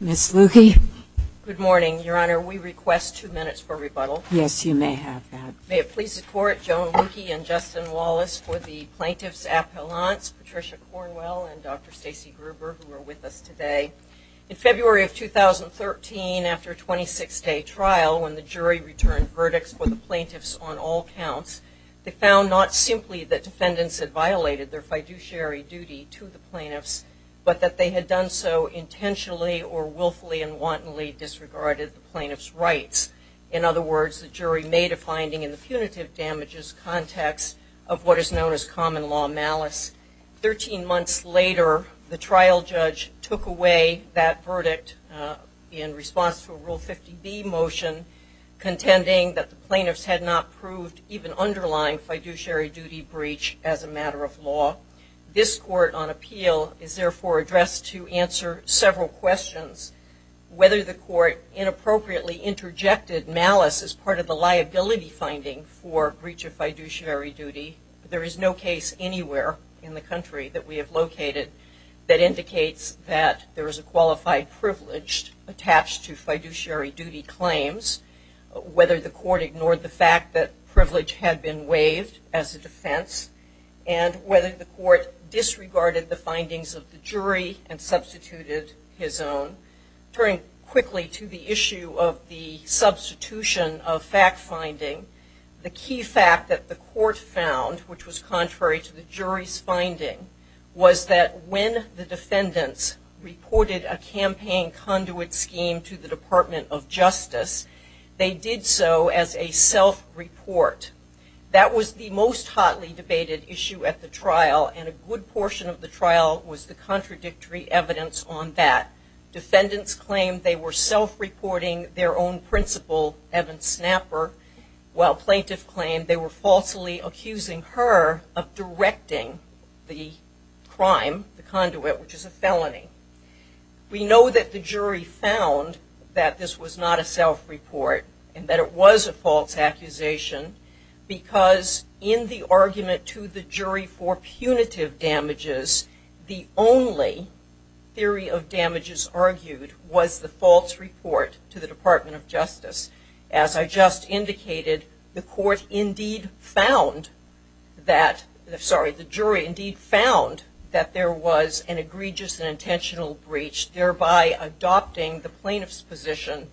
Ms. Luecke? Good morning, Your Honor. We request two minutes for rebuttal. Yes, you may have that. May it please the Court, Joan Luecke and Justin Wallace, for the Plaintiffs' Appellants, Patricia Cornwell and Dr. Stacey Gruber, who are with us today. In February of 2013, after a 26-day trial, when the jury returned verdicts for the Plaintiffs on all counts, they found not simply that defendants had violated their fiduciary duty to the Plaintiffs, but that they had done so intentionally or willfully and wantonly disregarded the Plaintiffs' rights. In other words, the jury made a finding in the punitive damages context of what is known as common law malice. Thirteen months later, the trial judge took away that verdict in response to a Rule 50B motion contending that the Plaintiffs had not proved even underlying fiduciary duty breach as a matter of law. This Court, on appeal, is therefore addressed to answer several questions. Whether the Court inappropriately interjected malice as part of the liability finding for breach of fiduciary duty, there is no case anywhere in the country that we have located that indicates that there is a qualified privilege attached to fiduciary duty claims. Whether the Court ignored the fact that privilege had been waived as a defense, and whether the Court disregarded the findings of the jury and substituted his own. Turning quickly to the issue of the substitution of fact-finding, the key fact that the Court found, which was contrary to the jury's finding, was that when the defendants reported a campaign conduit scheme to the Department of Justice, they did so as a self-report. That was the most hotly debated issue at the trial, and a good portion of the trial was the contradictory evidence on that. Defendants claimed they were self-reporting their own principal, Evan Snapper, while plaintiffs claimed they were falsely accusing her of directing the crime, the conduit, which is a felony. We know that the jury found that this was not a self-report, and that it was a false accusation, because in the argument to the jury for punitive damages, the only theory of damages argued was the false report to the Department of Justice. As I just indicated, the jury indeed found that there was an egregious and intentional breach, thereby adopting the plaintiff's position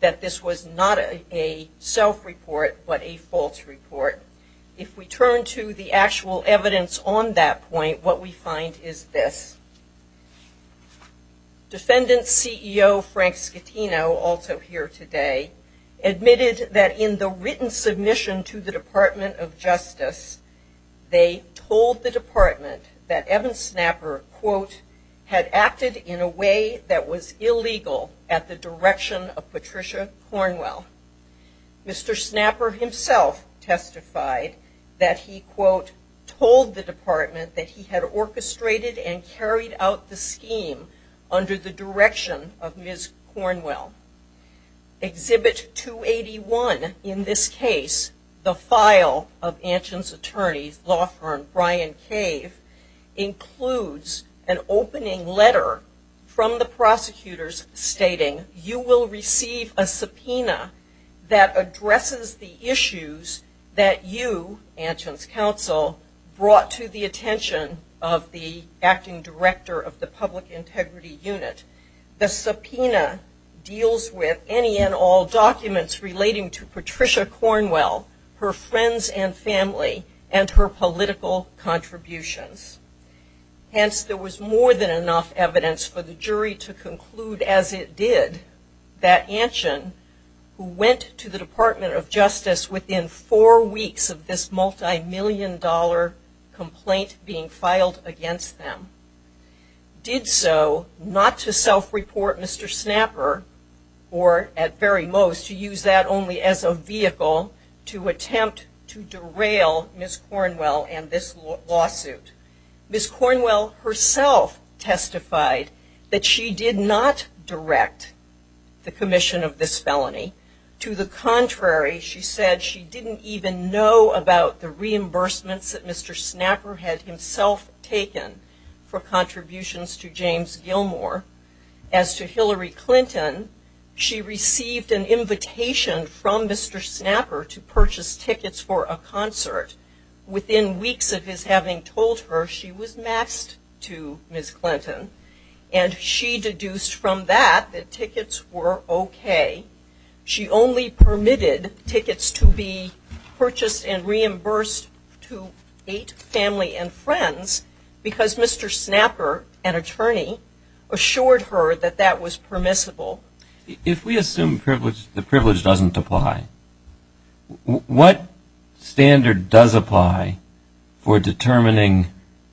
that this was not a self-report, but a false report. If we turn to the actual evidence on that point, what we find is this. Defendant CEO Frank Scatino, also here today, admitted that in the written submission to the Department of Justice, they told the department that Evan Snapper, quote, had acted in a way that was illegal at the direction of Patricia Cornwell. told the department that he had orchestrated and carried out the scheme under the direction of Ms. Cornwell. Exhibit 281 in this case, the file of Anshan's attorney's law firm, Brian Cave, includes an opening letter from the prosecutors stating, you will receive a subpoena that addresses the issues that you, Anshan's counsel, brought to the attention of the acting director of the public integrity unit. The subpoena deals with any and all documents relating to Patricia Cornwell, her friends and family, and her political contributions. Hence, there was more than enough evidence for the jury to conclude, as it did, that Anshan, who went to the Department of Justice within four weeks of this multi-million dollar complaint being filed against them, did so not to self-report Mr. Snapper, or at very most, to use that only as a vehicle to attempt to derail Ms. Cornwell and this lawsuit. Ms. Cornwell herself testified that she did not direct the commission of this felony. To the contrary, she said she didn't even know about the reimbursements that Mr. Snapper had himself taken for contributions to James Gilmore. As to Hillary Clinton, she received an invitation from Mr. Snapper to purchase tickets for a concert. Within weeks of his having told her, she was maxed to Ms. Clinton, and she deduced from that that tickets were okay. She only permitted tickets to be purchased and reimbursed to eight family and friends because Mr. Snapper, an attorney, assured her that that was permissible. If we assume the privilege doesn't apply, what standard does apply for determining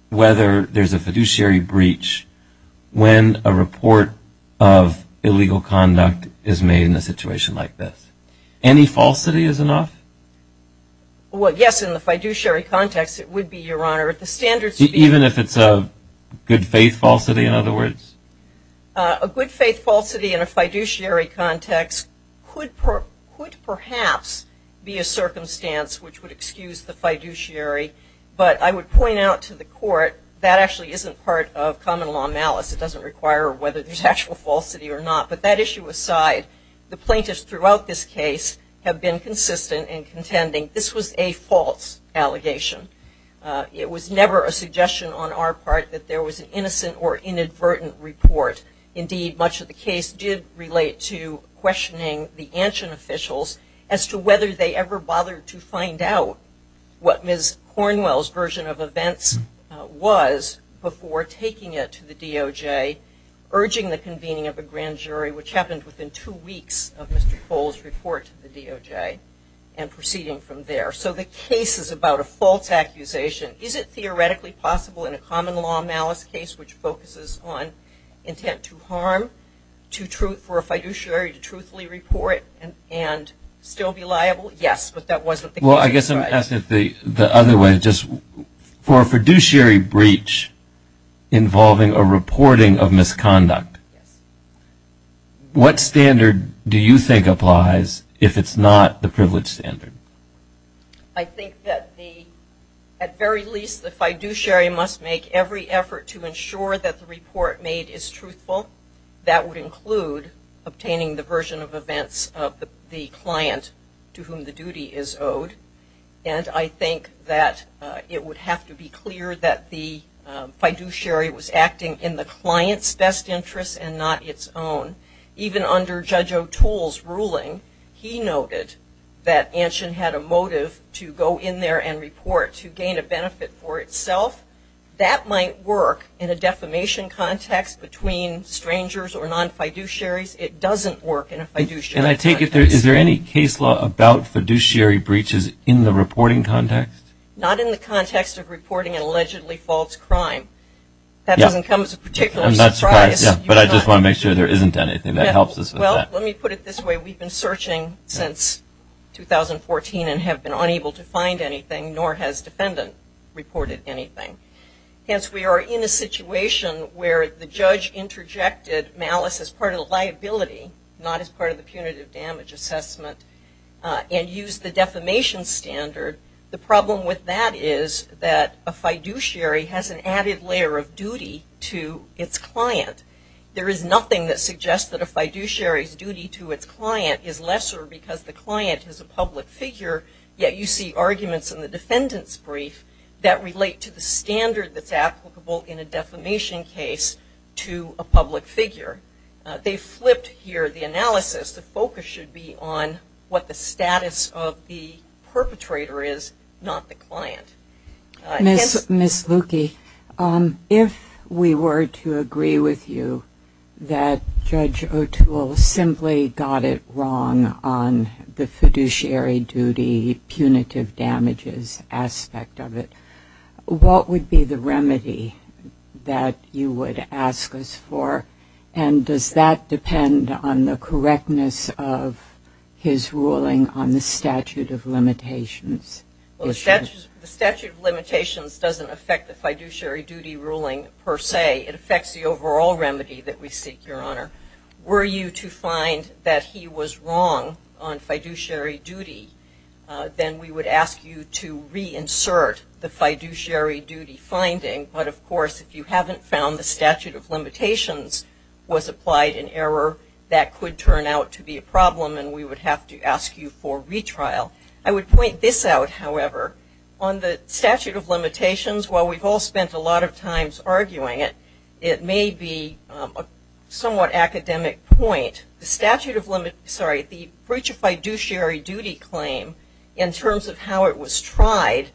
whether there's a fiduciary breach when a report of illegal conduct is made in a situation like this? Any falsity is enough? Well, yes, in the fiduciary context it would be, Your Honor. Even if it's a good faith falsity, in other words? A good faith falsity in a fiduciary context could perhaps be a circumstance which would excuse the fiduciary, but I would point out to the court that actually isn't part of common law malice. It doesn't require whether there's actual falsity or not, but that issue aside, the plaintiffs throughout this case have been consistent in contending this was a false allegation. It was never a suggestion on our part that there was an innocent or inadvertent report. Indeed, much of the case did relate to questioning the ancient officials as to whether they ever bothered to find out what Ms. Cornwell's version of events was before taking it to the DOJ, urging the convening of a grand jury, which happened within two weeks of Mr. Cole's report to the DOJ, and proceeding from there. So the case is about a false accusation. Is it theoretically possible in a common law malice case, which focuses on intent to harm, for a fiduciary to truthfully report and still be liable? Yes, but that wasn't the case. Well, I guess I'm asking it the other way. For a fiduciary breach involving a reporting of misconduct, what standard do you think applies if it's not the privilege standard? I think that, at very least, the fiduciary must make every effort to ensure that the report made is truthful. That would include obtaining the version of events of the client to whom the duty is owed. And I think that it would have to be clear that the fiduciary was acting in the client's best interest and not its own. Even under Judge O'Toole's ruling, he noted that Anshin had a motive to go in there and report to gain a benefit for itself. That might work in a defamation context between strangers or non-fiduciaries. It doesn't work in a fiduciary context. And I take it, is there any case law about fiduciary breaches in the reporting context? Not in the context of reporting an allegedly false crime. That doesn't come as a particular surprise. I'm not surprised, but I just want to make sure there isn't anything that helps us with that. Well, let me put it this way. We've been searching since 2014 and have been unable to find anything, nor has defendant reported anything. Hence, we are in a situation where the judge interjected malice as part of the liability, not as part of the punitive damage assessment, and used the defamation standard. The problem with that is that a fiduciary has an added layer of duty to its client. There is nothing that suggests that a fiduciary's duty to its client is lesser because the client is a public figure, yet you see arguments in the defendant's brief that relate to the standard that's applicable in a defamation case to a public figure. They flipped here the analysis. The focus should be on what the status of the perpetrator is, not the client. Ms. Luque, if we were to agree with you that Judge O'Toole simply got it wrong on the fiduciary duty, punitive damages aspect of it, what would be the remedy that you would ask us for? And does that depend on the correctness of his ruling on the statute of limitations? Well, the statute of limitations doesn't affect the fiduciary duty ruling per se. It affects the overall remedy that we seek, Your Honor. Were you to find that he was wrong on fiduciary duty, then we would ask you to reinsert the fiduciary duty finding. But, of course, if you haven't found the statute of limitations was applied in error, that could turn out to be a problem, and we would have to ask you for retrial. I would point this out, however. On the statute of limitations, while we've all spent a lot of time arguing it, it may be a somewhat academic point. The statute of limits, sorry, the fiduciary duty claim, in terms of how it was tried,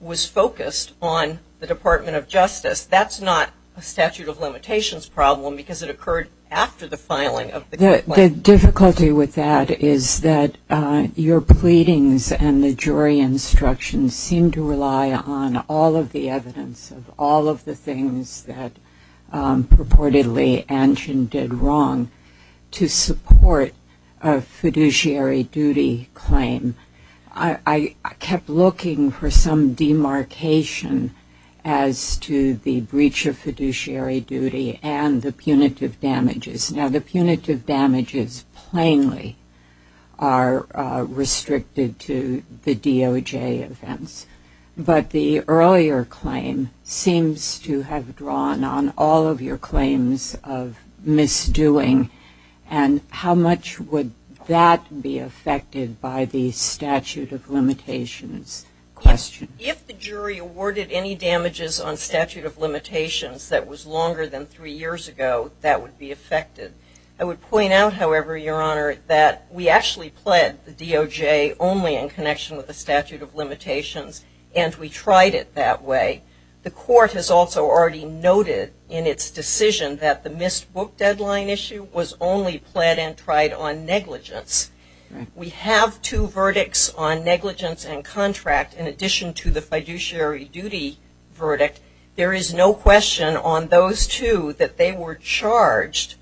was focused on the Department of Justice. That's not a statute of limitations problem because it occurred after the filing of the complaint. The difficulty with that is that your pleadings and the jury instructions seem to rely on all of the evidence, all of the things that purportedly Anjan did wrong to support a fiduciary duty claim. I kept looking for some demarcation as to the breach of fiduciary duty and the punitive damages. Now, the punitive damages plainly are restricted to the DOJ offense, but the earlier claim seems to have drawn on all of your claims of misdoing, and how much would that be affected by the statute of limitations question? If the jury awarded any damages on statute of limitations that was longer than three years ago, that would be affected. I would point out, however, Your Honor, that we actually pled the DOJ only in connection with the statute of limitations, and we tried it that way. The court has also already noted in its decision that the missed book deadline issue was only pled and tried on negligence. We have two verdicts on negligence and contract in addition to the fiduciary duty verdict. There is no question on those two that they were charged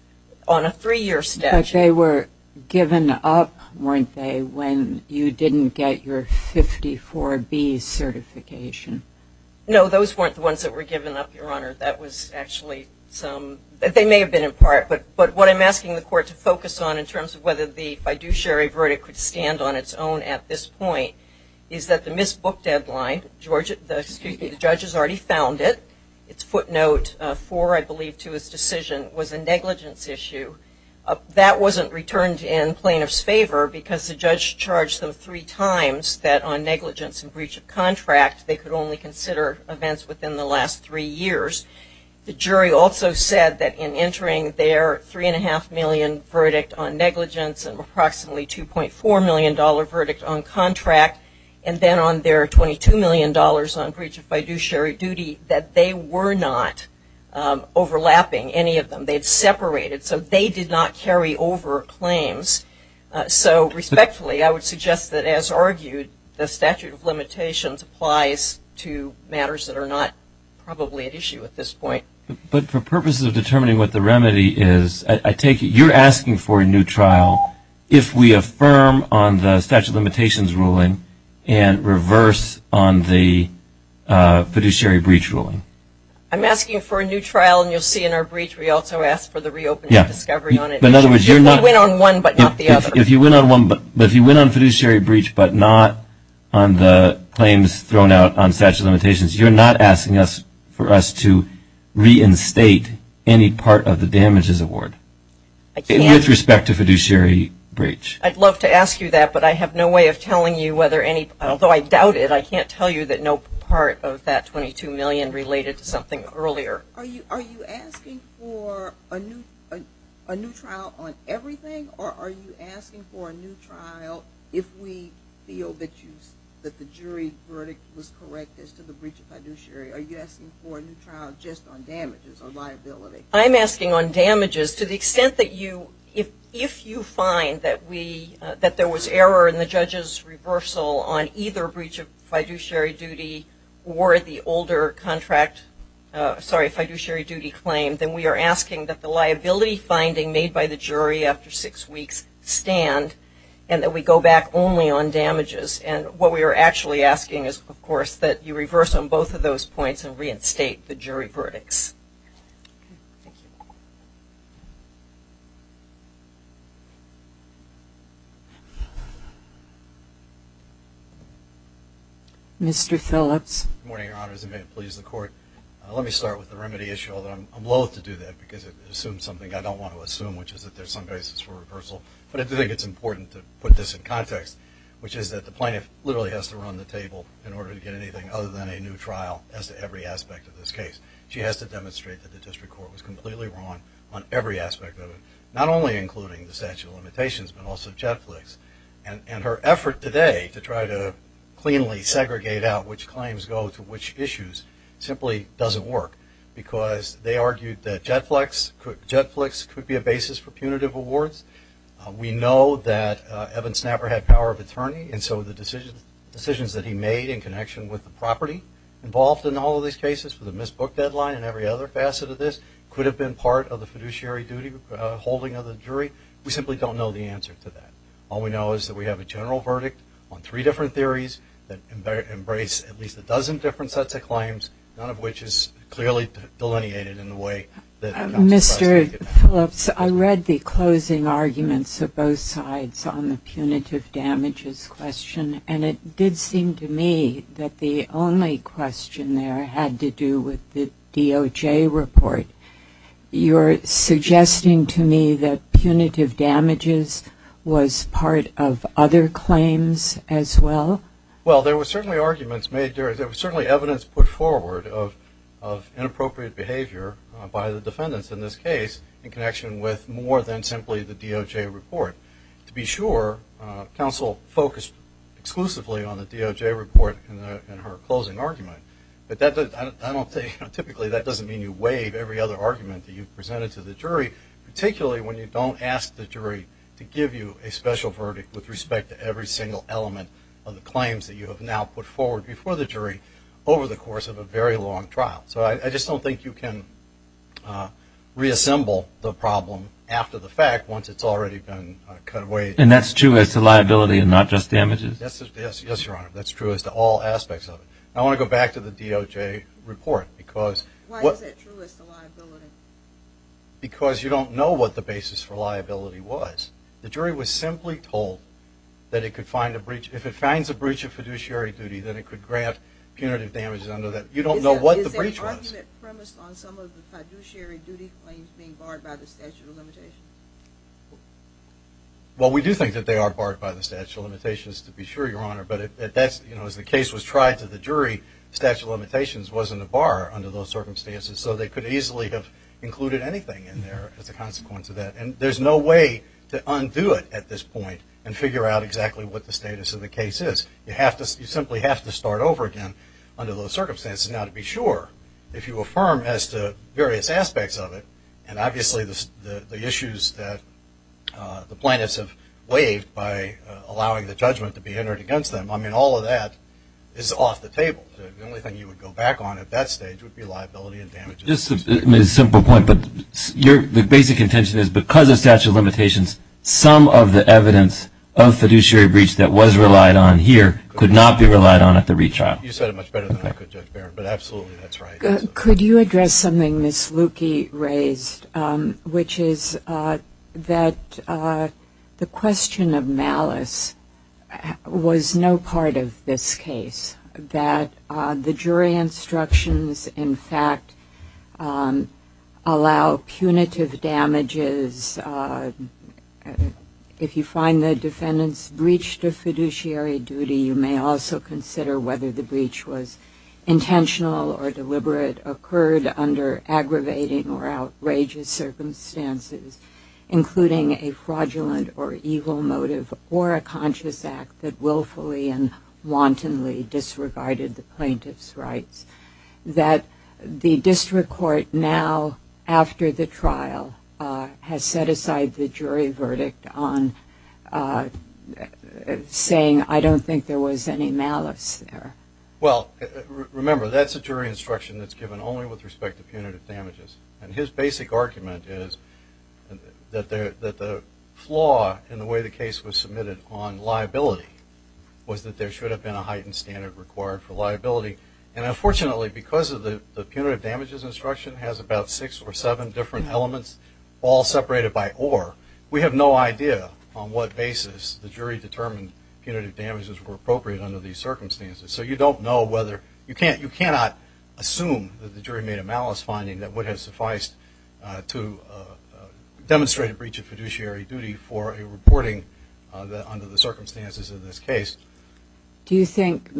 on a three-year statute. But they were given up, weren't they, when you didn't get your 54B certification? No, those weren't the ones that were given up, Your Honor. They may have been in part, but what I'm asking the court to focus on in terms of whether the fiduciary verdict could stand on its own at this point is that the missed book deadline, the judge has already found it. Its footnote 4, I believe, to his decision was a negligence issue. That wasn't returned in plaintiff's favor because the judge charged them three times that on negligence and breach of contract they could only consider events within the last three years. The jury also said that in entering their $3.5 million verdict on negligence and approximately $2.4 million verdict on contract and then on their $22 million on breach of fiduciary duty that they were not overlapping any of them. They had separated, so they did not carry over claims. So, respectfully, I would suggest that, as argued, the statute of limitations applies to matters that are not probably at issue at this point. But for purposes of determining what the remedy is, I take it you're asking for a new trial if we affirm on the statute of limitations ruling and reverse on the fiduciary breach ruling. I'm asking for a new trial, and you'll see in our breach we also ask for the reopening of discovery on it. In other words, if you went on fiduciary breach but not on the claims thrown out on statute of limitations, you're not asking for us to reinstate any part of the damages award with respect to fiduciary breach. I'd love to ask you that, but I have no way of telling you whether any, although I doubt it, I can't tell you that no part of that $22 million related to something earlier. Are you asking for a new trial on everything, or are you asking for a new trial if we feel that the jury verdict was correct as to the breach of fiduciary? Are you asking for a new trial just on damages or liability? I'm asking on damages to the extent that if you find that there was error in the judge's reversal on either breach of fiduciary duty or the older contract, sorry, fiduciary duty claim, then we are asking that the liability finding made by the jury after six weeks stand, and that we go back only on damages. And what we are actually asking is, of course, that you reverse on both of those points and reinstate the jury verdicts. Thank you. Mr. Phillips. Good morning, Your Honors, and may it please the Court. Let me start with the remedy issue, although I'm loathe to do that because it assumes something I don't want to assume, which is that there's some basis for reversal. But I do think it's important to put this in context, which is that the plaintiff literally has to run the table in order to get anything other than a new trial as to every aspect of this case. She has to demonstrate that the district court was completely wrong on every aspect of it, not only including the statute of limitations but also JetFlix. And her effort today to try to cleanly segregate out which claims go to which issues simply doesn't work because they argued that JetFlix could be a basis for punitive awards. We know that Evan Snapper had power of attorney, and so the decisions that he made in connection with the property involved in all of these cases, with the misbooked deadline and every other facet of this, could have been part of the fiduciary duty holding of the jury. We simply don't know the answer to that. All we know is that we have a general verdict on three different theories that embrace at least a dozen different sets of claims, Mr. Phillips, I read the closing arguments of both sides on the punitive damages question, and it did seem to me that the only question there had to do with the DOJ report. You're suggesting to me that punitive damages was part of other claims as well? Well, there were certainly arguments made there. There was certainly evidence put forward of inappropriate behavior by the defendants in this case in connection with more than simply the DOJ report. To be sure, counsel focused exclusively on the DOJ report in her closing argument, but typically that doesn't mean you waive every other argument that you've presented to the jury, particularly when you don't ask the jury to give you a special verdict with respect to every single element of the claims that you have now put forward before the jury over the course of a very long trial. So I just don't think you can reassemble the problem after the fact once it's already been cut away. And that's true as to liability and not just damages? Yes, Your Honor, that's true as to all aspects of it. I want to go back to the DOJ report. Why is that true as to liability? Because you don't know what the basis for liability was. The jury was simply told that if it finds a breach of fiduciary duty, then it could grant punitive damages under that. You don't know what the breach was. Is there an argument premised on some of the fiduciary duty claims being barred by the statute of limitations? Well, we do think that they are barred by the statute of limitations, to be sure, Your Honor. But as the case was tried to the jury, the statute of limitations wasn't a bar under those circumstances, so they could easily have included anything in there as a consequence of that. And there's no way to undo it at this point and figure out exactly what the status of the case is. You simply have to start over again under those circumstances. Now, to be sure, if you affirm as to various aspects of it, and obviously the issues that the plaintiffs have waived by allowing the judgment to be entered against them, I mean, all of that is off the table. The only thing you would go back on at that stage would be liability and damages. Just a simple point, but the basic intention is because of statute of limitations, some of the evidence of fiduciary breach that was relied on here could not be relied on at the retrial. You said it much better than I could, Judge Barron, but absolutely that's right. Could you address something Ms. Lukey raised, which is that the question of malice was no part of this case, that the jury instructions, in fact, allow punitive damages. If you find the defendant's breach to fiduciary duty, you may also consider whether the breach was intentional or deliberate, occurred under aggravating or outrageous circumstances, including a fraudulent or evil motive, or a conscious act that willfully and wantonly disregarded the plaintiff's rights, that the district court now, after the trial, has set aside the jury verdict on saying, I don't think there was any malice there. Well, remember, that's a jury instruction that's given only with respect to punitive damages, and his basic argument is that the flaw in the way the case was submitted on liability was that there should have been a heightened standard required for liability, and unfortunately, because of the punitive damages instruction has about six or seven different elements, all separated by or, we have no idea on what basis the jury determined punitive damages were appropriate under these circumstances, so you don't know whether, you cannot assume that the jury made a malice finding that would have sufficed to demonstrate a breach of fiduciary duty for a reporting under the circumstances of this case. Do you think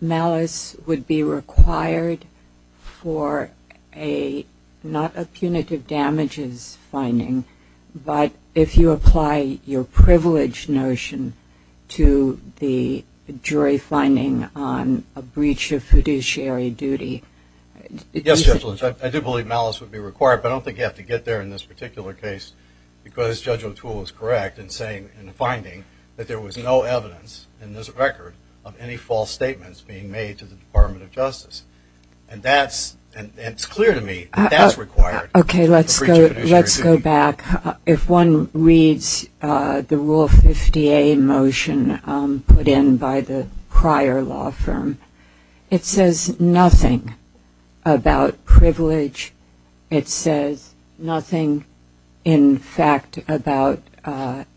malice would be required for a, not a punitive damages finding, but if you apply your privilege notion to the jury finding on a breach of fiduciary duty? Yes, Judge Lynch, I do believe malice would be required, but I don't think you have to get there in this particular case because Judge O'Toole is correct in saying in the finding that there was no evidence in this record of any false statements being made to the Department of Justice, and that's, and it's clear to me that that's required. Okay, let's go back. If one reads the Rule 50A motion put in by the prior law firm, it says nothing about privilege. It says nothing in fact about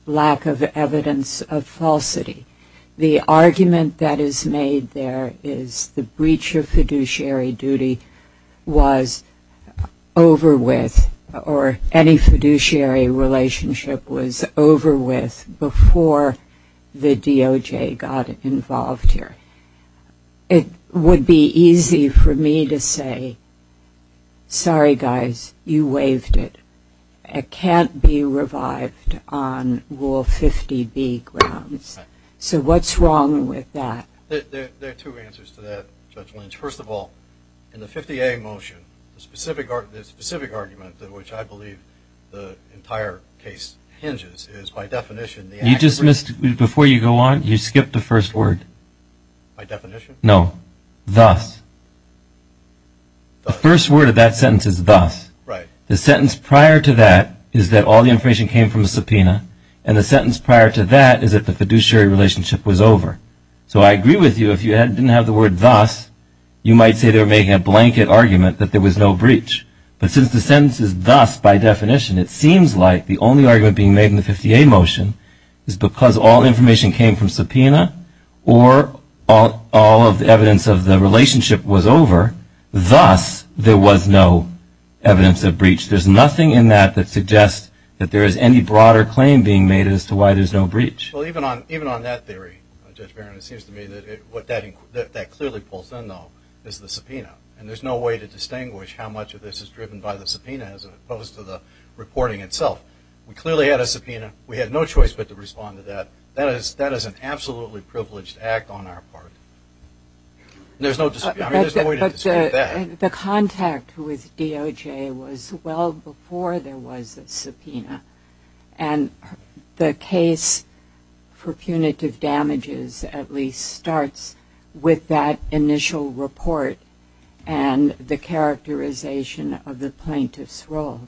lack of evidence of falsity. The argument that is made there is the breach of fiduciary duty was over with, or any fiduciary relationship was over with before the DOJ got involved here. It would be easy for me to say, sorry, guys, you waived it. It can't be revived on Rule 50B grounds. So what's wrong with that? There are two answers to that, Judge Lynch. First of all, in the 50A motion, the specific argument that which I believe the entire case hinges is, by definition, You just missed, before you go on, you skipped the first word. By definition? No, thus. The first word of that sentence is thus. Right. The sentence prior to that is that all the information came from the subpoena, and the sentence prior to that is that the fiduciary relationship was over. So I agree with you. If you didn't have the word thus, you might say they were making a blanket argument that there was no breach. But since the sentence is thus by definition, it seems like the only argument being made in the 50A motion is because all information came from subpoena or all of the evidence of the relationship was over, thus there was no evidence of breach. There's nothing in that that suggests that there is any broader claim being made as to why there's no breach. Well, even on that theory, Judge Barron, it seems to me that what that clearly pulls in, though, is the subpoena. And there's no way to distinguish how much of this is driven by the subpoena as opposed to the reporting itself. We clearly had a subpoena. We had no choice but to respond to that. That is an absolutely privileged act on our part. There's no way to describe that. The contact with DOJ was well before there was a subpoena. And the case for punitive damages at least starts with that initial report and the characterization of the plaintiff's role.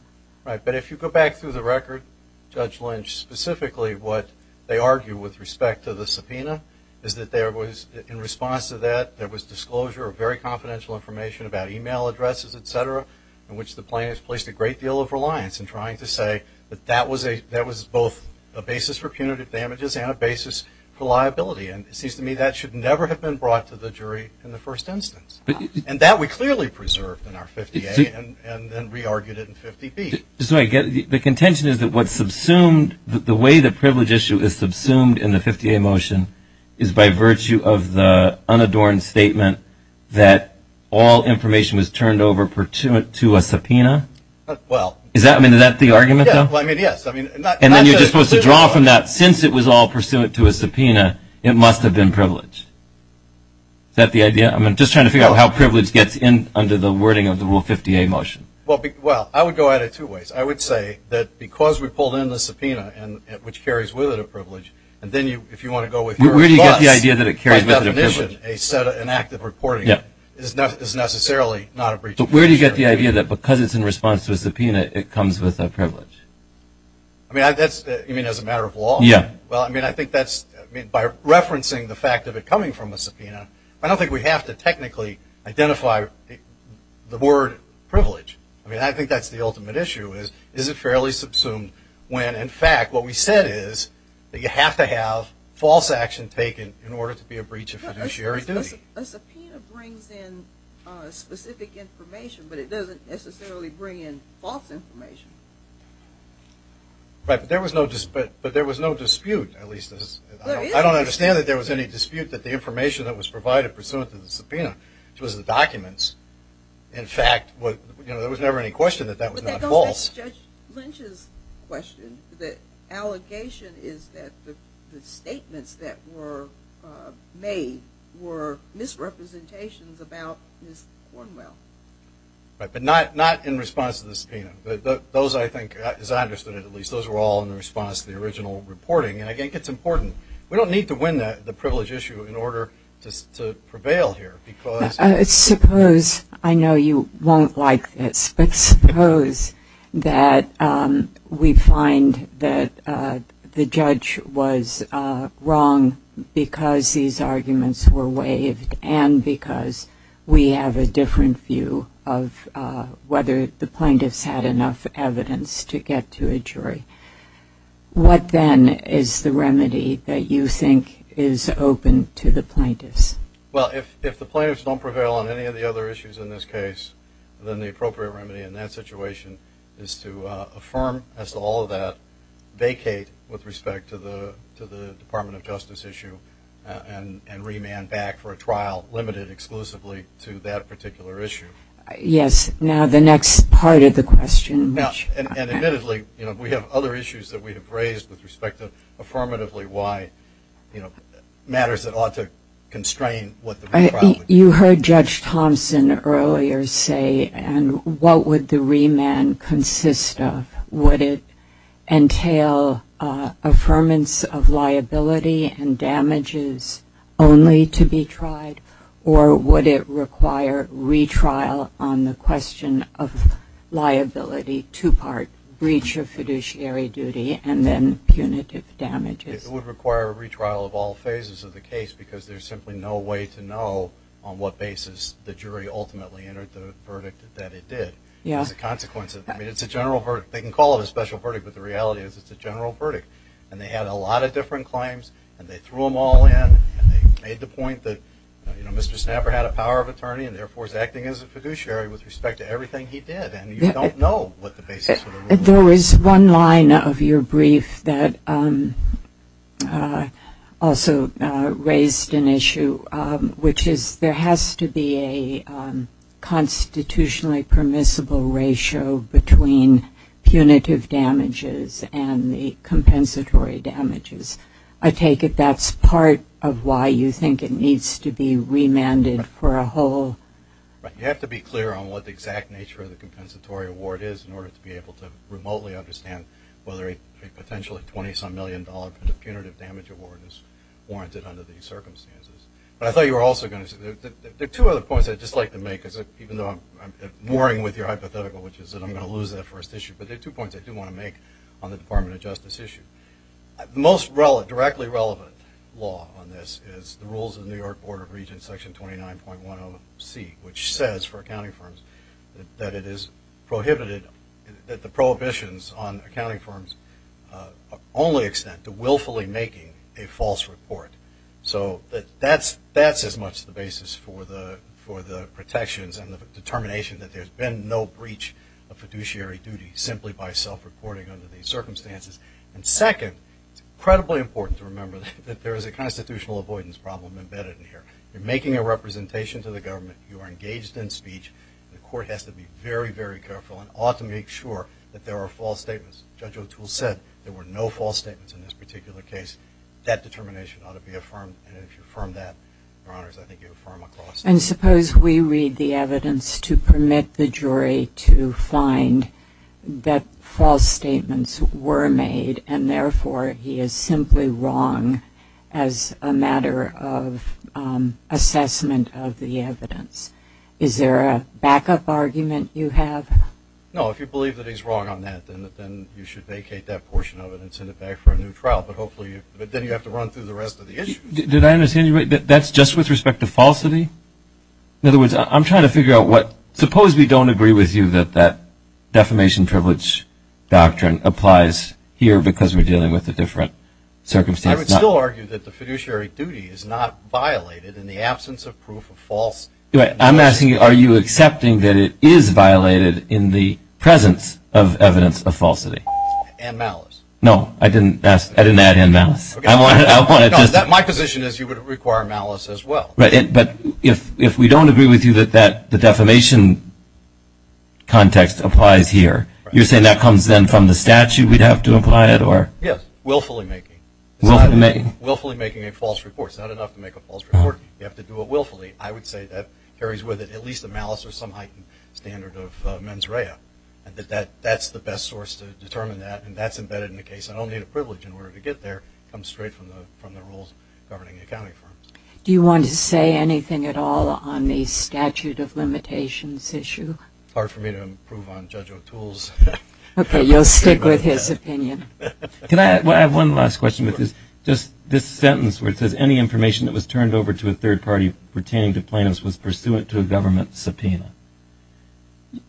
Right. But if you go back through the record, Judge Lynch, specifically what they argue with respect to the subpoena is that there was, in response to that, there was disclosure of very confidential information about e-mail addresses, et cetera, in which the plaintiff placed a great deal of reliance in trying to say that that was both a basis for punitive damages and a basis for liability. And it seems to me that should never have been brought to the jury in the first instance. And that we clearly preserved in our 50A and then re-argued it in 50B. So I get it. The contention is that what's subsumed, the way the privilege issue is subsumed in the 50A motion is by virtue of the unadorned statement that all information was turned over to a subpoena? Well. Is that the argument, though? Yes. And then you're just supposed to draw from that since it was all pursuant to a subpoena, it must have been privilege. Is that the idea? I'm just trying to figure out how privilege gets in under the wording of the Rule 50A motion. Well, I would go at it two ways. I would say that because we pulled in the subpoena, which carries with it a privilege, and then if you want to go with your advice, by definition, an act of reporting is necessarily not a breach of fiduciary duty. But in response to a subpoena, it comes with a privilege. I mean, as a matter of law? Yeah. Well, I mean, I think that's, by referencing the fact of it coming from a subpoena, I don't think we have to technically identify the word privilege. I mean, I think that's the ultimate issue is, is it fairly subsumed when, in fact, what we said is that you have to have false action taken in order to be a breach of fiduciary duty. A subpoena brings in specific information, but it doesn't necessarily bring in false information. But there was no dispute, at least. I don't understand that there was any dispute that the information that was provided pursuant to the subpoena, which was the documents, in fact, there was never any question that that was not false. That's Judge Lynch's question. The allegation is that the statements that were made were misrepresentations about Ms. Cornwell. Right. But not in response to the subpoena. Those, I think, as I understood it, at least, those were all in response to the original reporting. And I think it's important. We don't need to win the privilege issue in order to prevail here because Suppose, I know you won't like this, but suppose that we find that the judge was wrong because these arguments were different view of whether the plaintiffs had enough evidence to get to a jury. What, then, is the remedy that you think is open to the plaintiffs? Well, if the plaintiffs don't prevail on any of the other issues in this case, then the appropriate remedy in that situation is to affirm as to all of that, vacate with respect to the Department of Justice issue, and remand back for a trial limited exclusively to that particular issue. Yes. Now, the next part of the question. And, admittedly, we have other issues that we have raised with respect to affirmatively why matters that ought to constrain what the trial would be. You heard Judge Thompson earlier say, and what would the remand consist of? Would it entail affirmance of liability and damages only to be tried, or would it require retrial on the question of liability, two-part breach of fiduciary duty, and then punitive damages? It would require a retrial of all phases of the case because there's simply no way to know on what basis the jury ultimately entered the verdict that it did. Yes. It's a consequence of that. I mean, it's a general verdict. They can call it a special verdict, but the reality is it's a general verdict. And they had a lot of different claims, and they threw them all in, and they made the point that, you know, Mr. Snapper had a power of attorney and, therefore, is acting as a fiduciary with respect to everything he did. And you don't know what the basis of the rule is. There was one line of your brief that also raised an issue, which is there has to be a constitutionally permissible ratio between punitive damages and the compensatory damages. I take it that's part of why you think it needs to be remanded for a whole. You have to be clear on what the exact nature of the compensatory award is in order to be able to remotely understand whether a potentially $20-some million punitive damage award is warranted under these circumstances. But I thought you were also going to say there are two other points I'd just like to make, even though I'm mooring with your hypothetical, which is that I'm going to lose that first issue. But there are two points I do want to make on the Department of Justice issue. The most directly relevant law on this is the rules of the New York Board of Regents, Section 29.10C, which says for accounting firms that it is prohibited, that the prohibitions on accounting firms only extend to willfully making a false report. So that's as much the basis for the protections and the determination that there's been no breach of fiduciary duty simply by self-reporting under these circumstances. And second, it's incredibly important to remember that there is a constitutional avoidance problem embedded in here. You're making a representation to the government. You are engaged in speech. The court has to be very, very careful and ought to make sure that there are false statements. Judge O'Toole said there were no false statements in this particular case. That determination ought to be affirmed. And if you affirm that, Your Honors, I think you affirm a clause. And suppose we read the evidence to permit the jury to find that false statements were made and, therefore, he is simply wrong as a matter of assessment of the evidence. Is there a backup argument you have? No. If you believe that he's wrong on that, then you should vacate that portion of it and send it back for a new trial. But then you have to run through the rest of the issues. Did I understand you right? That's just with respect to falsity? In other words, I'm trying to figure out what – suppose we don't agree with you that that defamation privilege doctrine applies here because we're dealing with a different circumstance. I would still argue that the fiduciary duty is not violated in the absence of I'm asking are you accepting that it is violated in the presence of evidence of falsity? And malice. No, I didn't add in malice. My position is you would require malice as well. But if we don't agree with you that the defamation context applies here, you're saying that comes then from the statute we'd have to apply it? Yes, willfully making. Willfully making a false report. It's not enough to make a false report. You have to do it willfully. I would say that carries with it at least a malice or some heightened standard of mens rea. That's the best source to determine that, and that's embedded in the case. I don't need a privilege in order to get there. It comes straight from the rules governing accounting firms. Do you want to say anything at all on the statute of limitations issue? Hard for me to improve on Judge O'Toole's. Okay, you'll stick with his opinion. Can I have one last question with this? This sentence where it says, any information that was turned over to a third party pertaining to plaintiffs was pursuant to a government subpoena.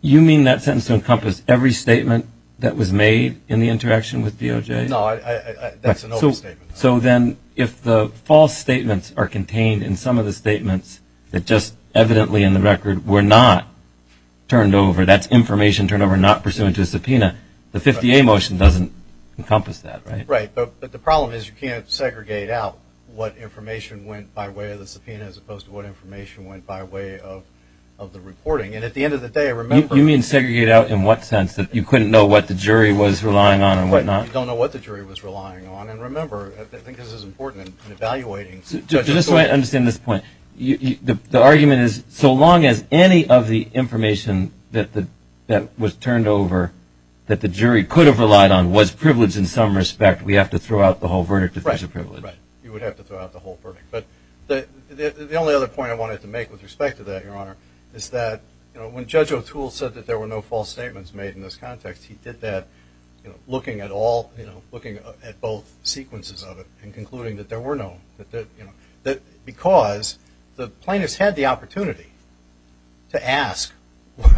You mean that sentence encompassed every statement that was made in the interaction with DOJ? No, that's an open statement. So then if the false statements are contained in some of the statements that just evidently in the record were not turned over, that's information turned over not pursuant to a subpoena, the 50A motion doesn't encompass that, right? Right, but the problem is you can't segregate out what information went by way of the subpoena as opposed to what information went by way of the reporting. And at the end of the day, I remember – You mean segregate out in what sense, that you couldn't know what the jury was relying on and whatnot? You don't know what the jury was relying on. And remember, I think this is important in evaluating – Just so I understand this point, the argument is so long as any of the information that was turned over that the jury could have relied on was privileged in some respect, we have to throw out the whole verdict if there's a privilege. Right, you would have to throw out the whole verdict. But the only other point I wanted to make with respect to that, Your Honor, is that when Judge O'Toole said that there were no false statements made in this context, he did that looking at both sequences of it and concluding that there were no – that because the plaintiffs had the opportunity to ask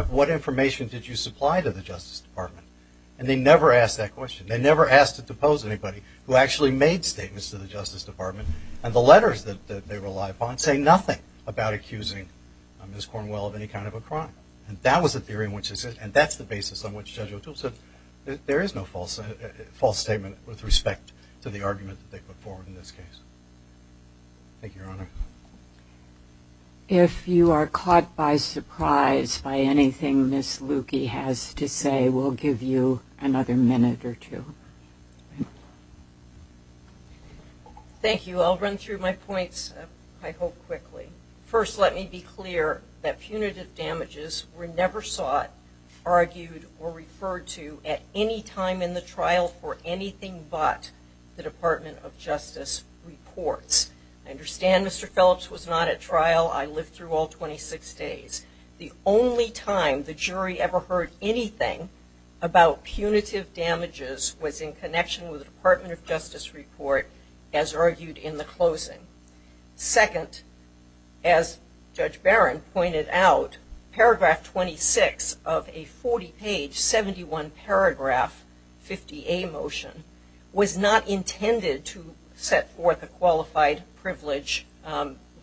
what information did you supply to the Justice Department? And they never asked that question. They never asked to depose anybody who actually made statements to the Justice Department, and the letters that they relied upon say nothing about accusing Ms. Cornwell of any kind of a crime. And that was the theory in which – and that's the basis on which Judge O'Toole said that there is no false statement with respect to the argument that they put forward in this case. Thank you, Your Honor. If you are caught by surprise by anything Ms. Lukey has to say, we'll give you another minute or two. Thank you. I'll run through my points, I hope, quickly. First, let me be clear that punitive damages were never sought, argued, or referred to at any time in the trial for anything but the Department of Justice reports. I understand Mr. Phillips was not at trial. I lived through all 26 days. The only time the jury ever heard anything about punitive damages was in connection with the Department of Justice report, as argued in the closing. Second, as Judge Barron pointed out, paragraph 26 of a 40-page, 71-paragraph 50A motion was not intended to set forth a qualified privilege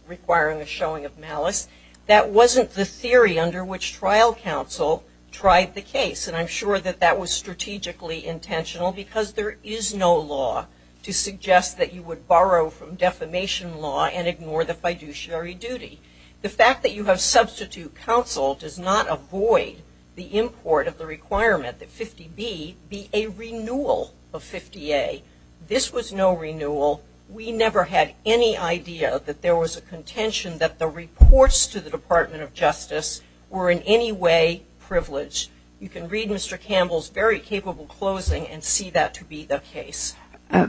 requiring a showing of malice. That wasn't the theory under which trial counsel tried the case, and I'm sure that that was strategically intentional because there is no law to suggest that you would borrow from defamation law and ignore the fiduciary duty. The fact that you have substitute counsel does not avoid the import of the requirement that 50B be a renewal of 50A. This was no renewal. We never had any idea that there was a contention that the reports to the Department of Justice were in any way privileged. You can read Mr. Campbell's very capable closing and see that to be the case.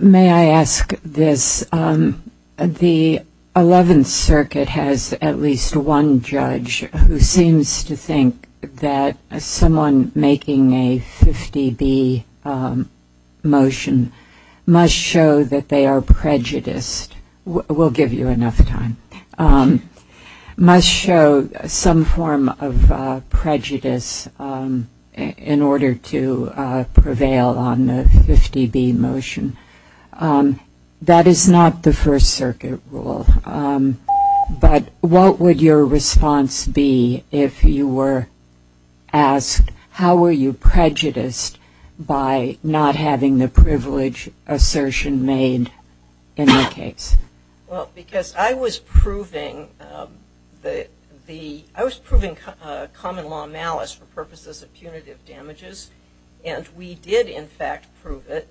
May I ask this? The Eleventh Circuit has at least one judge who seems to think that someone making a 50B motion must show that they are prejudiced. We'll give you enough time. Must show some form of prejudice in order to prevail on the 50B motion. That is not the First Circuit rule. But what would your response be if you were asked how were you prejudiced by not having the privilege assertion made in the case? Well, because I was proving common law malice for purposes of punitive damages, and we did in fact prove it,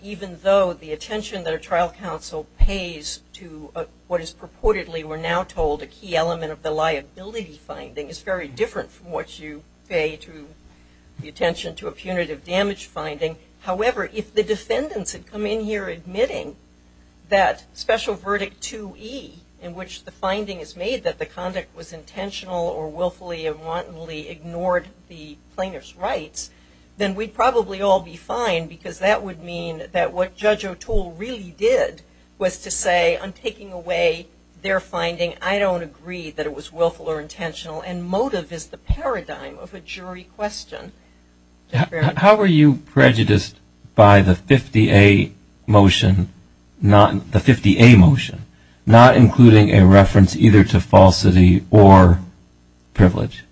even though the attention that a trial counsel pays to what is purportedly, we're now told, a key element of the liability finding is very different from what you pay to the attention to a punitive damage finding. However, if the defendants had come in here admitting that Special Verdict 2E, in which the finding is made that the conduct was intentional or willfully and wantonly ignored the plaintiff's rights, then we'd probably all be fine because that would mean that what Judge O'Toole really did was to say, on taking away their finding, I don't agree that it was willful or intentional, and motive is the paradigm of a jury question. How were you prejudiced by the 50A motion, not including a reference either to falsity or privilege?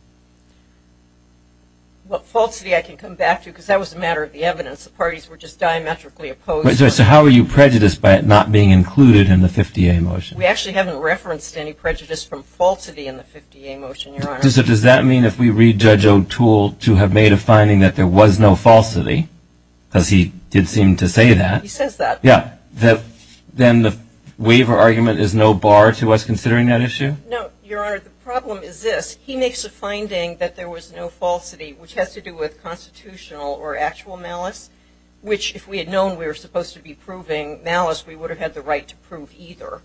Well, falsity I can come back to because that was a matter of the evidence. The parties were just diametrically opposed. So how were you prejudiced by it not being included in the 50A motion? We actually haven't referenced any prejudice from falsity in the 50A motion, Your Honor. Does that mean if we read Judge O'Toole to have made a finding that there was no falsity, because he did seem to say that. He says that. Then the waiver argument is no bar to us considering that issue? No, Your Honor. The problem is this. He makes a finding that there was no falsity, which has to do with constitutional or actual malice, which if we had known we were supposed to be proving malice, we would have had the right to prove either.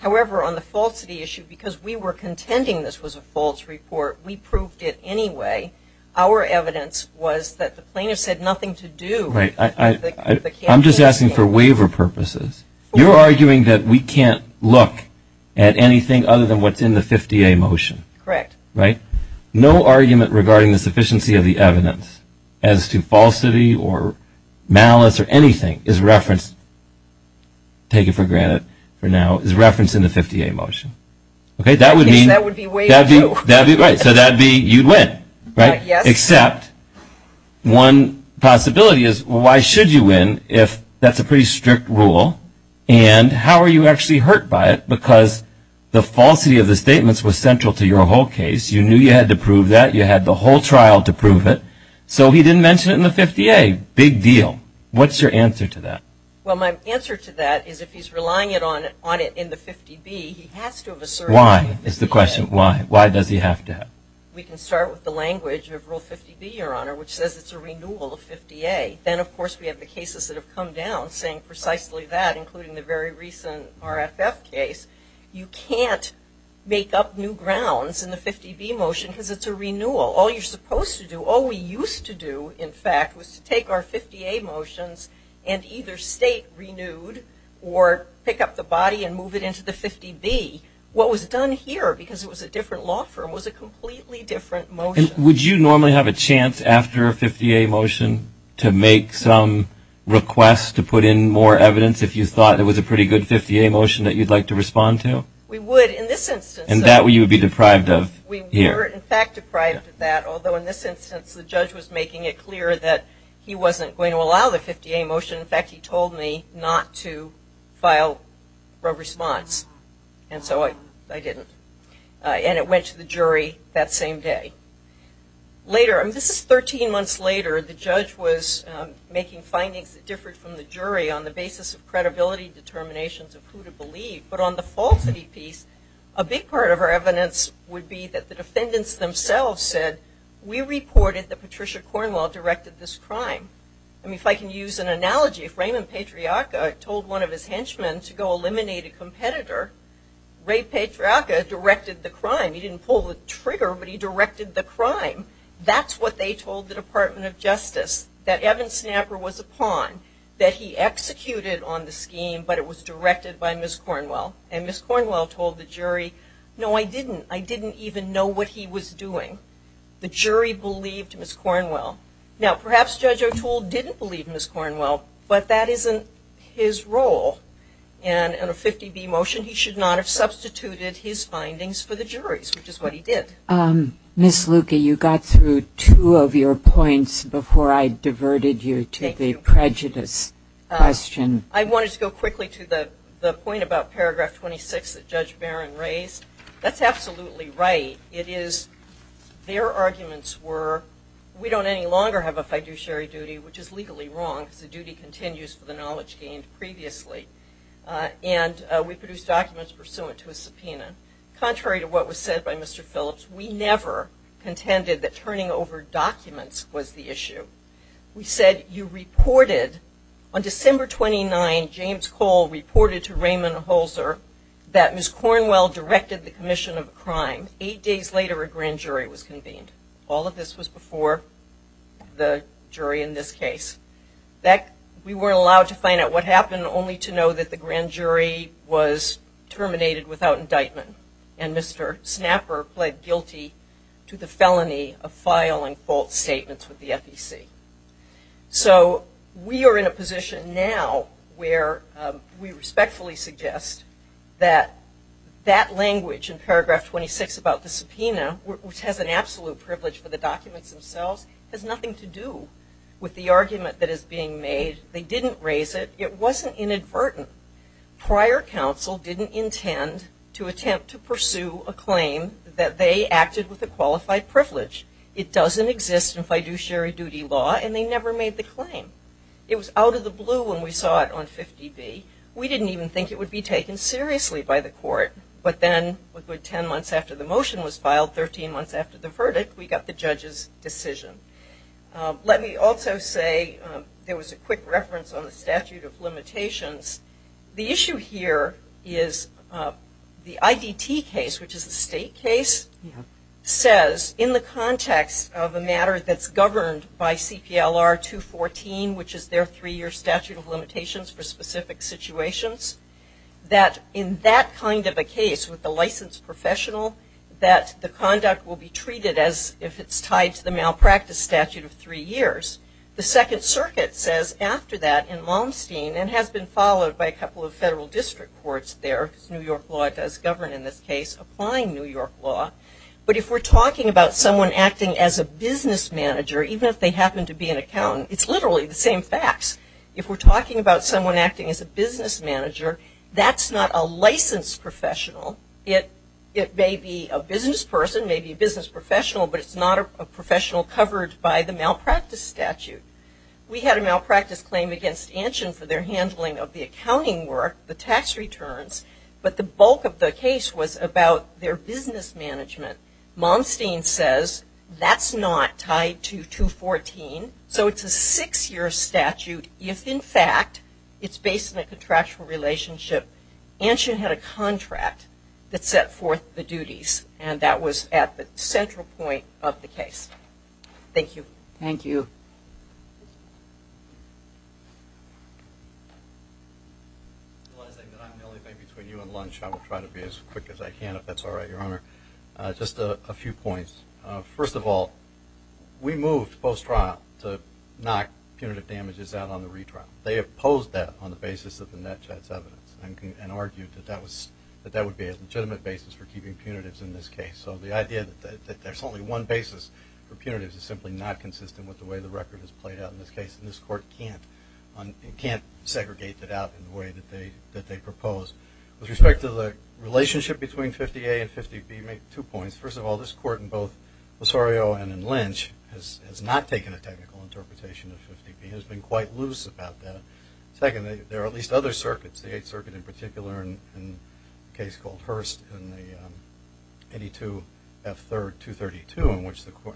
However, on the falsity issue, because we were contending this was a false report, we proved it anyway. Our evidence was that the plaintiff said nothing to do with the case. I'm just asking for waiver purposes. You're arguing that we can't look at anything other than what's in the 50A motion. Correct. Right? No argument regarding the sufficiency of the evidence as to falsity or malice or anything is referenced, take it for granted for now, is referenced in the 50A motion. Okay? That would be way too. That would be right. So that would be you'd win. Right? Yes. Except one possibility is why should you win if that's a pretty strict rule? And how are you actually hurt by it? Because the falsity of the statements was central to your whole case. You knew you had to prove that. You had the whole trial to prove it. So he didn't mention it in the 50A. Big deal. What's your answer to that? Well, my answer to that is if he's relying on it in the 50B, he has to have asserted. Why is the question. Why? Why does he have to? We can start with the language of Rule 50B, Your Honor, which says it's a renewal of 50A. Then, of course, we have the cases that have come down saying precisely that, including the very recent RFF case. You can't make up new grounds in the 50B motion because it's a renewal. All you're supposed to do, all we used to do, in fact, was to take our 50A motions and either state renewed or pick up the body and move it into the 50B. What was done here, because it was a different law firm, was a completely different motion. And would you normally have a chance after a 50A motion to make some requests to put in more evidence if you thought it was a pretty good 50A motion that you'd like to respond to? We would in this instance. And that would you be deprived of here? We were, in fact, deprived of that, although in this instance the judge was making it clear that he wasn't going to allow the 50A motion. In fact, he told me not to file a response. And so I didn't. And it went to the jury that same day. Later, and this is 13 months later, the judge was making findings that differed from the jury on the basis of credibility determinations of who to believe. But on the falsity piece, a big part of our evidence would be that the defendants themselves said, we reported that Patricia Cornwell directed this crime. I mean, if I can use an analogy, if Raymond Patriaca told one of his henchmen to go eliminate a competitor, Ray Patriaca directed the crime. He didn't pull the trigger, but he directed the crime. That's what they told the Department of Justice, that Evan Snapper was a pawn, that he executed on the scheme, but it was directed by Ms. Cornwell. And Ms. Cornwell told the jury, no, I didn't. I didn't even know what he was doing. The jury believed Ms. Cornwell. Now, perhaps Judge O'Toole didn't believe Ms. Cornwell, but that isn't his role. And on a 50B motion, he should not have substituted his findings for the jury's, which is what he did. Ms. Luque, you got through two of your points before I diverted you to the prejudice question. I wanted to go quickly to the point about Paragraph 26 that Judge Barron raised. That's absolutely right. It is, their arguments were, we don't any longer have a fiduciary duty, which is legally wrong because the duty continues for the knowledge gained previously. And we produced documents pursuant to a subpoena. Contrary to what was said by Mr. Phillips, we never contended that turning over documents was the issue. We said you reported, on December 29, James Cole reported to Raymond Holzer that Ms. Cornwell directed the commission of a crime. Eight days later, a grand jury was convened. All of this was before the jury in this case. We weren't allowed to find out what happened, only to know that the grand jury was terminated without indictment. And Mr. Snapper pled guilty to the felony of filing false statements with the FEC. So we are in a position now where we respectfully suggest that that language in Paragraph 26 about the subpoena, which has an absolute privilege for the documents themselves, has nothing to do with the argument that is being made. They didn't raise it. It wasn't inadvertent. Prior counsel didn't intend to attempt to pursue a claim that they acted with a qualified privilege. It doesn't exist in fiduciary duty law, and they never made the claim. It was out of the blue when we saw it on 50B. We didn't even think it would be taken seriously by the court. But then, a good 10 months after the motion was filed, 13 months after the verdict, we got the judge's decision. Let me also say there was a quick reference on the statute of limitations. The issue here is the IDT case, which is a state case, says in the context of a matter that's governed by CPLR 214, which is their three-year statute of limitations for specific situations, that in that kind of a case with a licensed professional, that the conduct will be treated as if it's tied to the malpractice statute of three years. The Second Circuit says after that in Malmsteen, and has been followed by a couple of federal district courts there, because New York law does govern in this case, applying New York law. But if we're talking about someone acting as a business manager, even if they happen to be an accountant, it's literally the same facts. If we're talking about someone acting as a business manager, that's not a licensed professional. It may be a business person, may be a business professional, but it's not a professional covered by the malpractice statute. We had a malpractice claim against Anshin for their handling of the case, but the bulk of the case was about their business management. Malmsteen says that's not tied to 214, so it's a six-year statute. If, in fact, it's based on a contractual relationship, Anshin had a contract that set forth the duties, and that was at the central point of the case. Thank you. Thank you. I'm realizing that I'm the only thing between you and lunch. I will try to be as quick as I can, if that's all right, Your Honor. Just a few points. First of all, we moved post-trial to knock punitive damages out on the retrial. They opposed that on the basis of the NETCHAT's evidence and argued that that would be a legitimate basis for keeping punitives in this case. So the idea that there's only one basis for punitives is simply not consistent with the way the record is played out in this case, and this court can't segregate that out in the way that they proposed. With respect to the relationship between 50A and 50B, make two points. First of all, this court, in both Losario and in Lynch, has not taken a technical interpretation of 50B. It has been quite loose about that. Second, there are at least other circuits, the Eighth Circuit in particular, and a case called Hearst in the 82F232,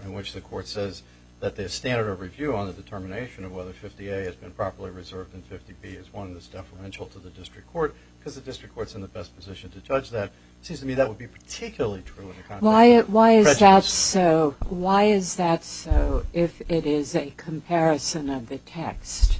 in which the court says that the standard of review on the determination of whether 50A has been properly reserved in 50B is one that's deferential to the district court because the district court's in the best position to judge that. It seems to me that would be particularly true in the context of prejudice. Why is that so if it is a comparison of the text?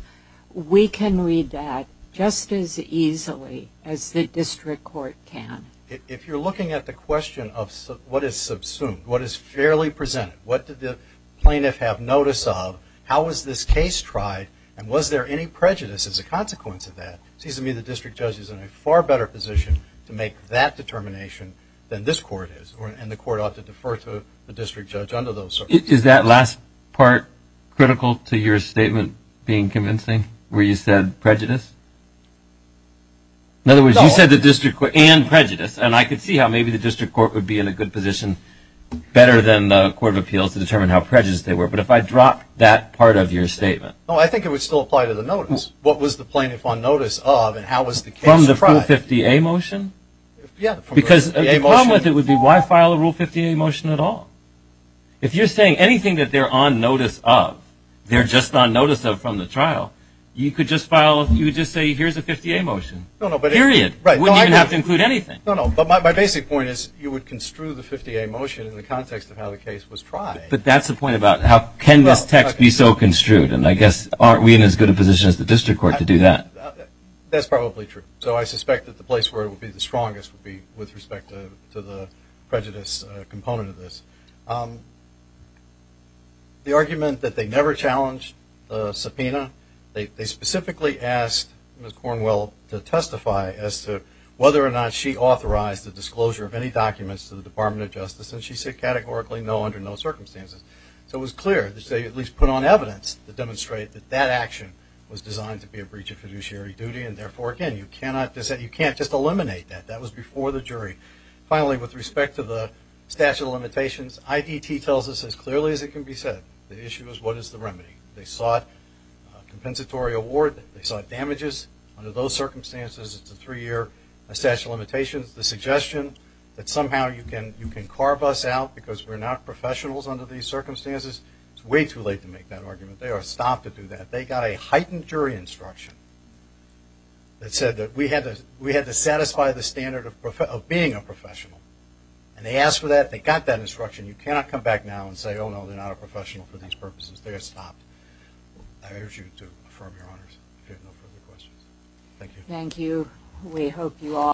We can read that just as easily as the district court can. If you're looking at the question of what is subsumed, what is fairly presented, what did the plaintiff have notice of, how was this case tried, and was there any prejudice as a consequence of that, it seems to me the district judge is in a far better position to make that determination than this court is, and the court ought to defer to the district judge under those circuits. Is that last part critical to your statement being convincing, where you said prejudice? In other words, you said the district court and prejudice, and I could see how maybe the district court would be in a good position better than the Court of Appeals to determine how prejudiced they were, but if I drop that part of your statement. No, I think it would still apply to the notice. What was the plaintiff on notice of, and how was the case tried? From the Rule 50A motion? Yeah. Because the problem with it would be why file a Rule 50A motion at all? If you're saying anything that they're on notice of, they're just on notice of from the trial, you could just say here's a 50A motion, period. You wouldn't even have to include anything. No, no, but my basic point is you would construe the 50A motion in the context of how the case was tried. But that's the point about how can this text be so construed, and I guess aren't we in as good a position as the district court to do that? That's probably true. So I suspect that the place where it would be the strongest would be with respect to the prejudice component of this. The argument that they never challenged the subpoena, they specifically asked Ms. Cornwell to testify as to whether or not she authorized the disclosure of any documents to the Department of Justice, and she said categorically no under no circumstances. So it was clear that they at least put on evidence to demonstrate that that action was designed to be a breach of fiduciary duty, and therefore, again, you cannot just eliminate that. That was before the jury. Finally, with respect to the statute of limitations, IDT tells us as clearly as it can be said the issue is what is the remedy. They sought a compensatory award. They sought damages. Under those circumstances, it's a three-year statute of limitations. The suggestion that somehow you can carve us out because we're not professionals under these circumstances, it's way too late to make that argument. They are stopped to do that. They got a heightened jury instruction that said that we had to satisfy the standard of being a professional, and they asked for that. They got that instruction. You cannot come back now and say, oh, no, they're not a professional for these purposes. They are stopped. I urge you to affirm your honors if you have no further questions. Thank you. Thank you. We hope you all.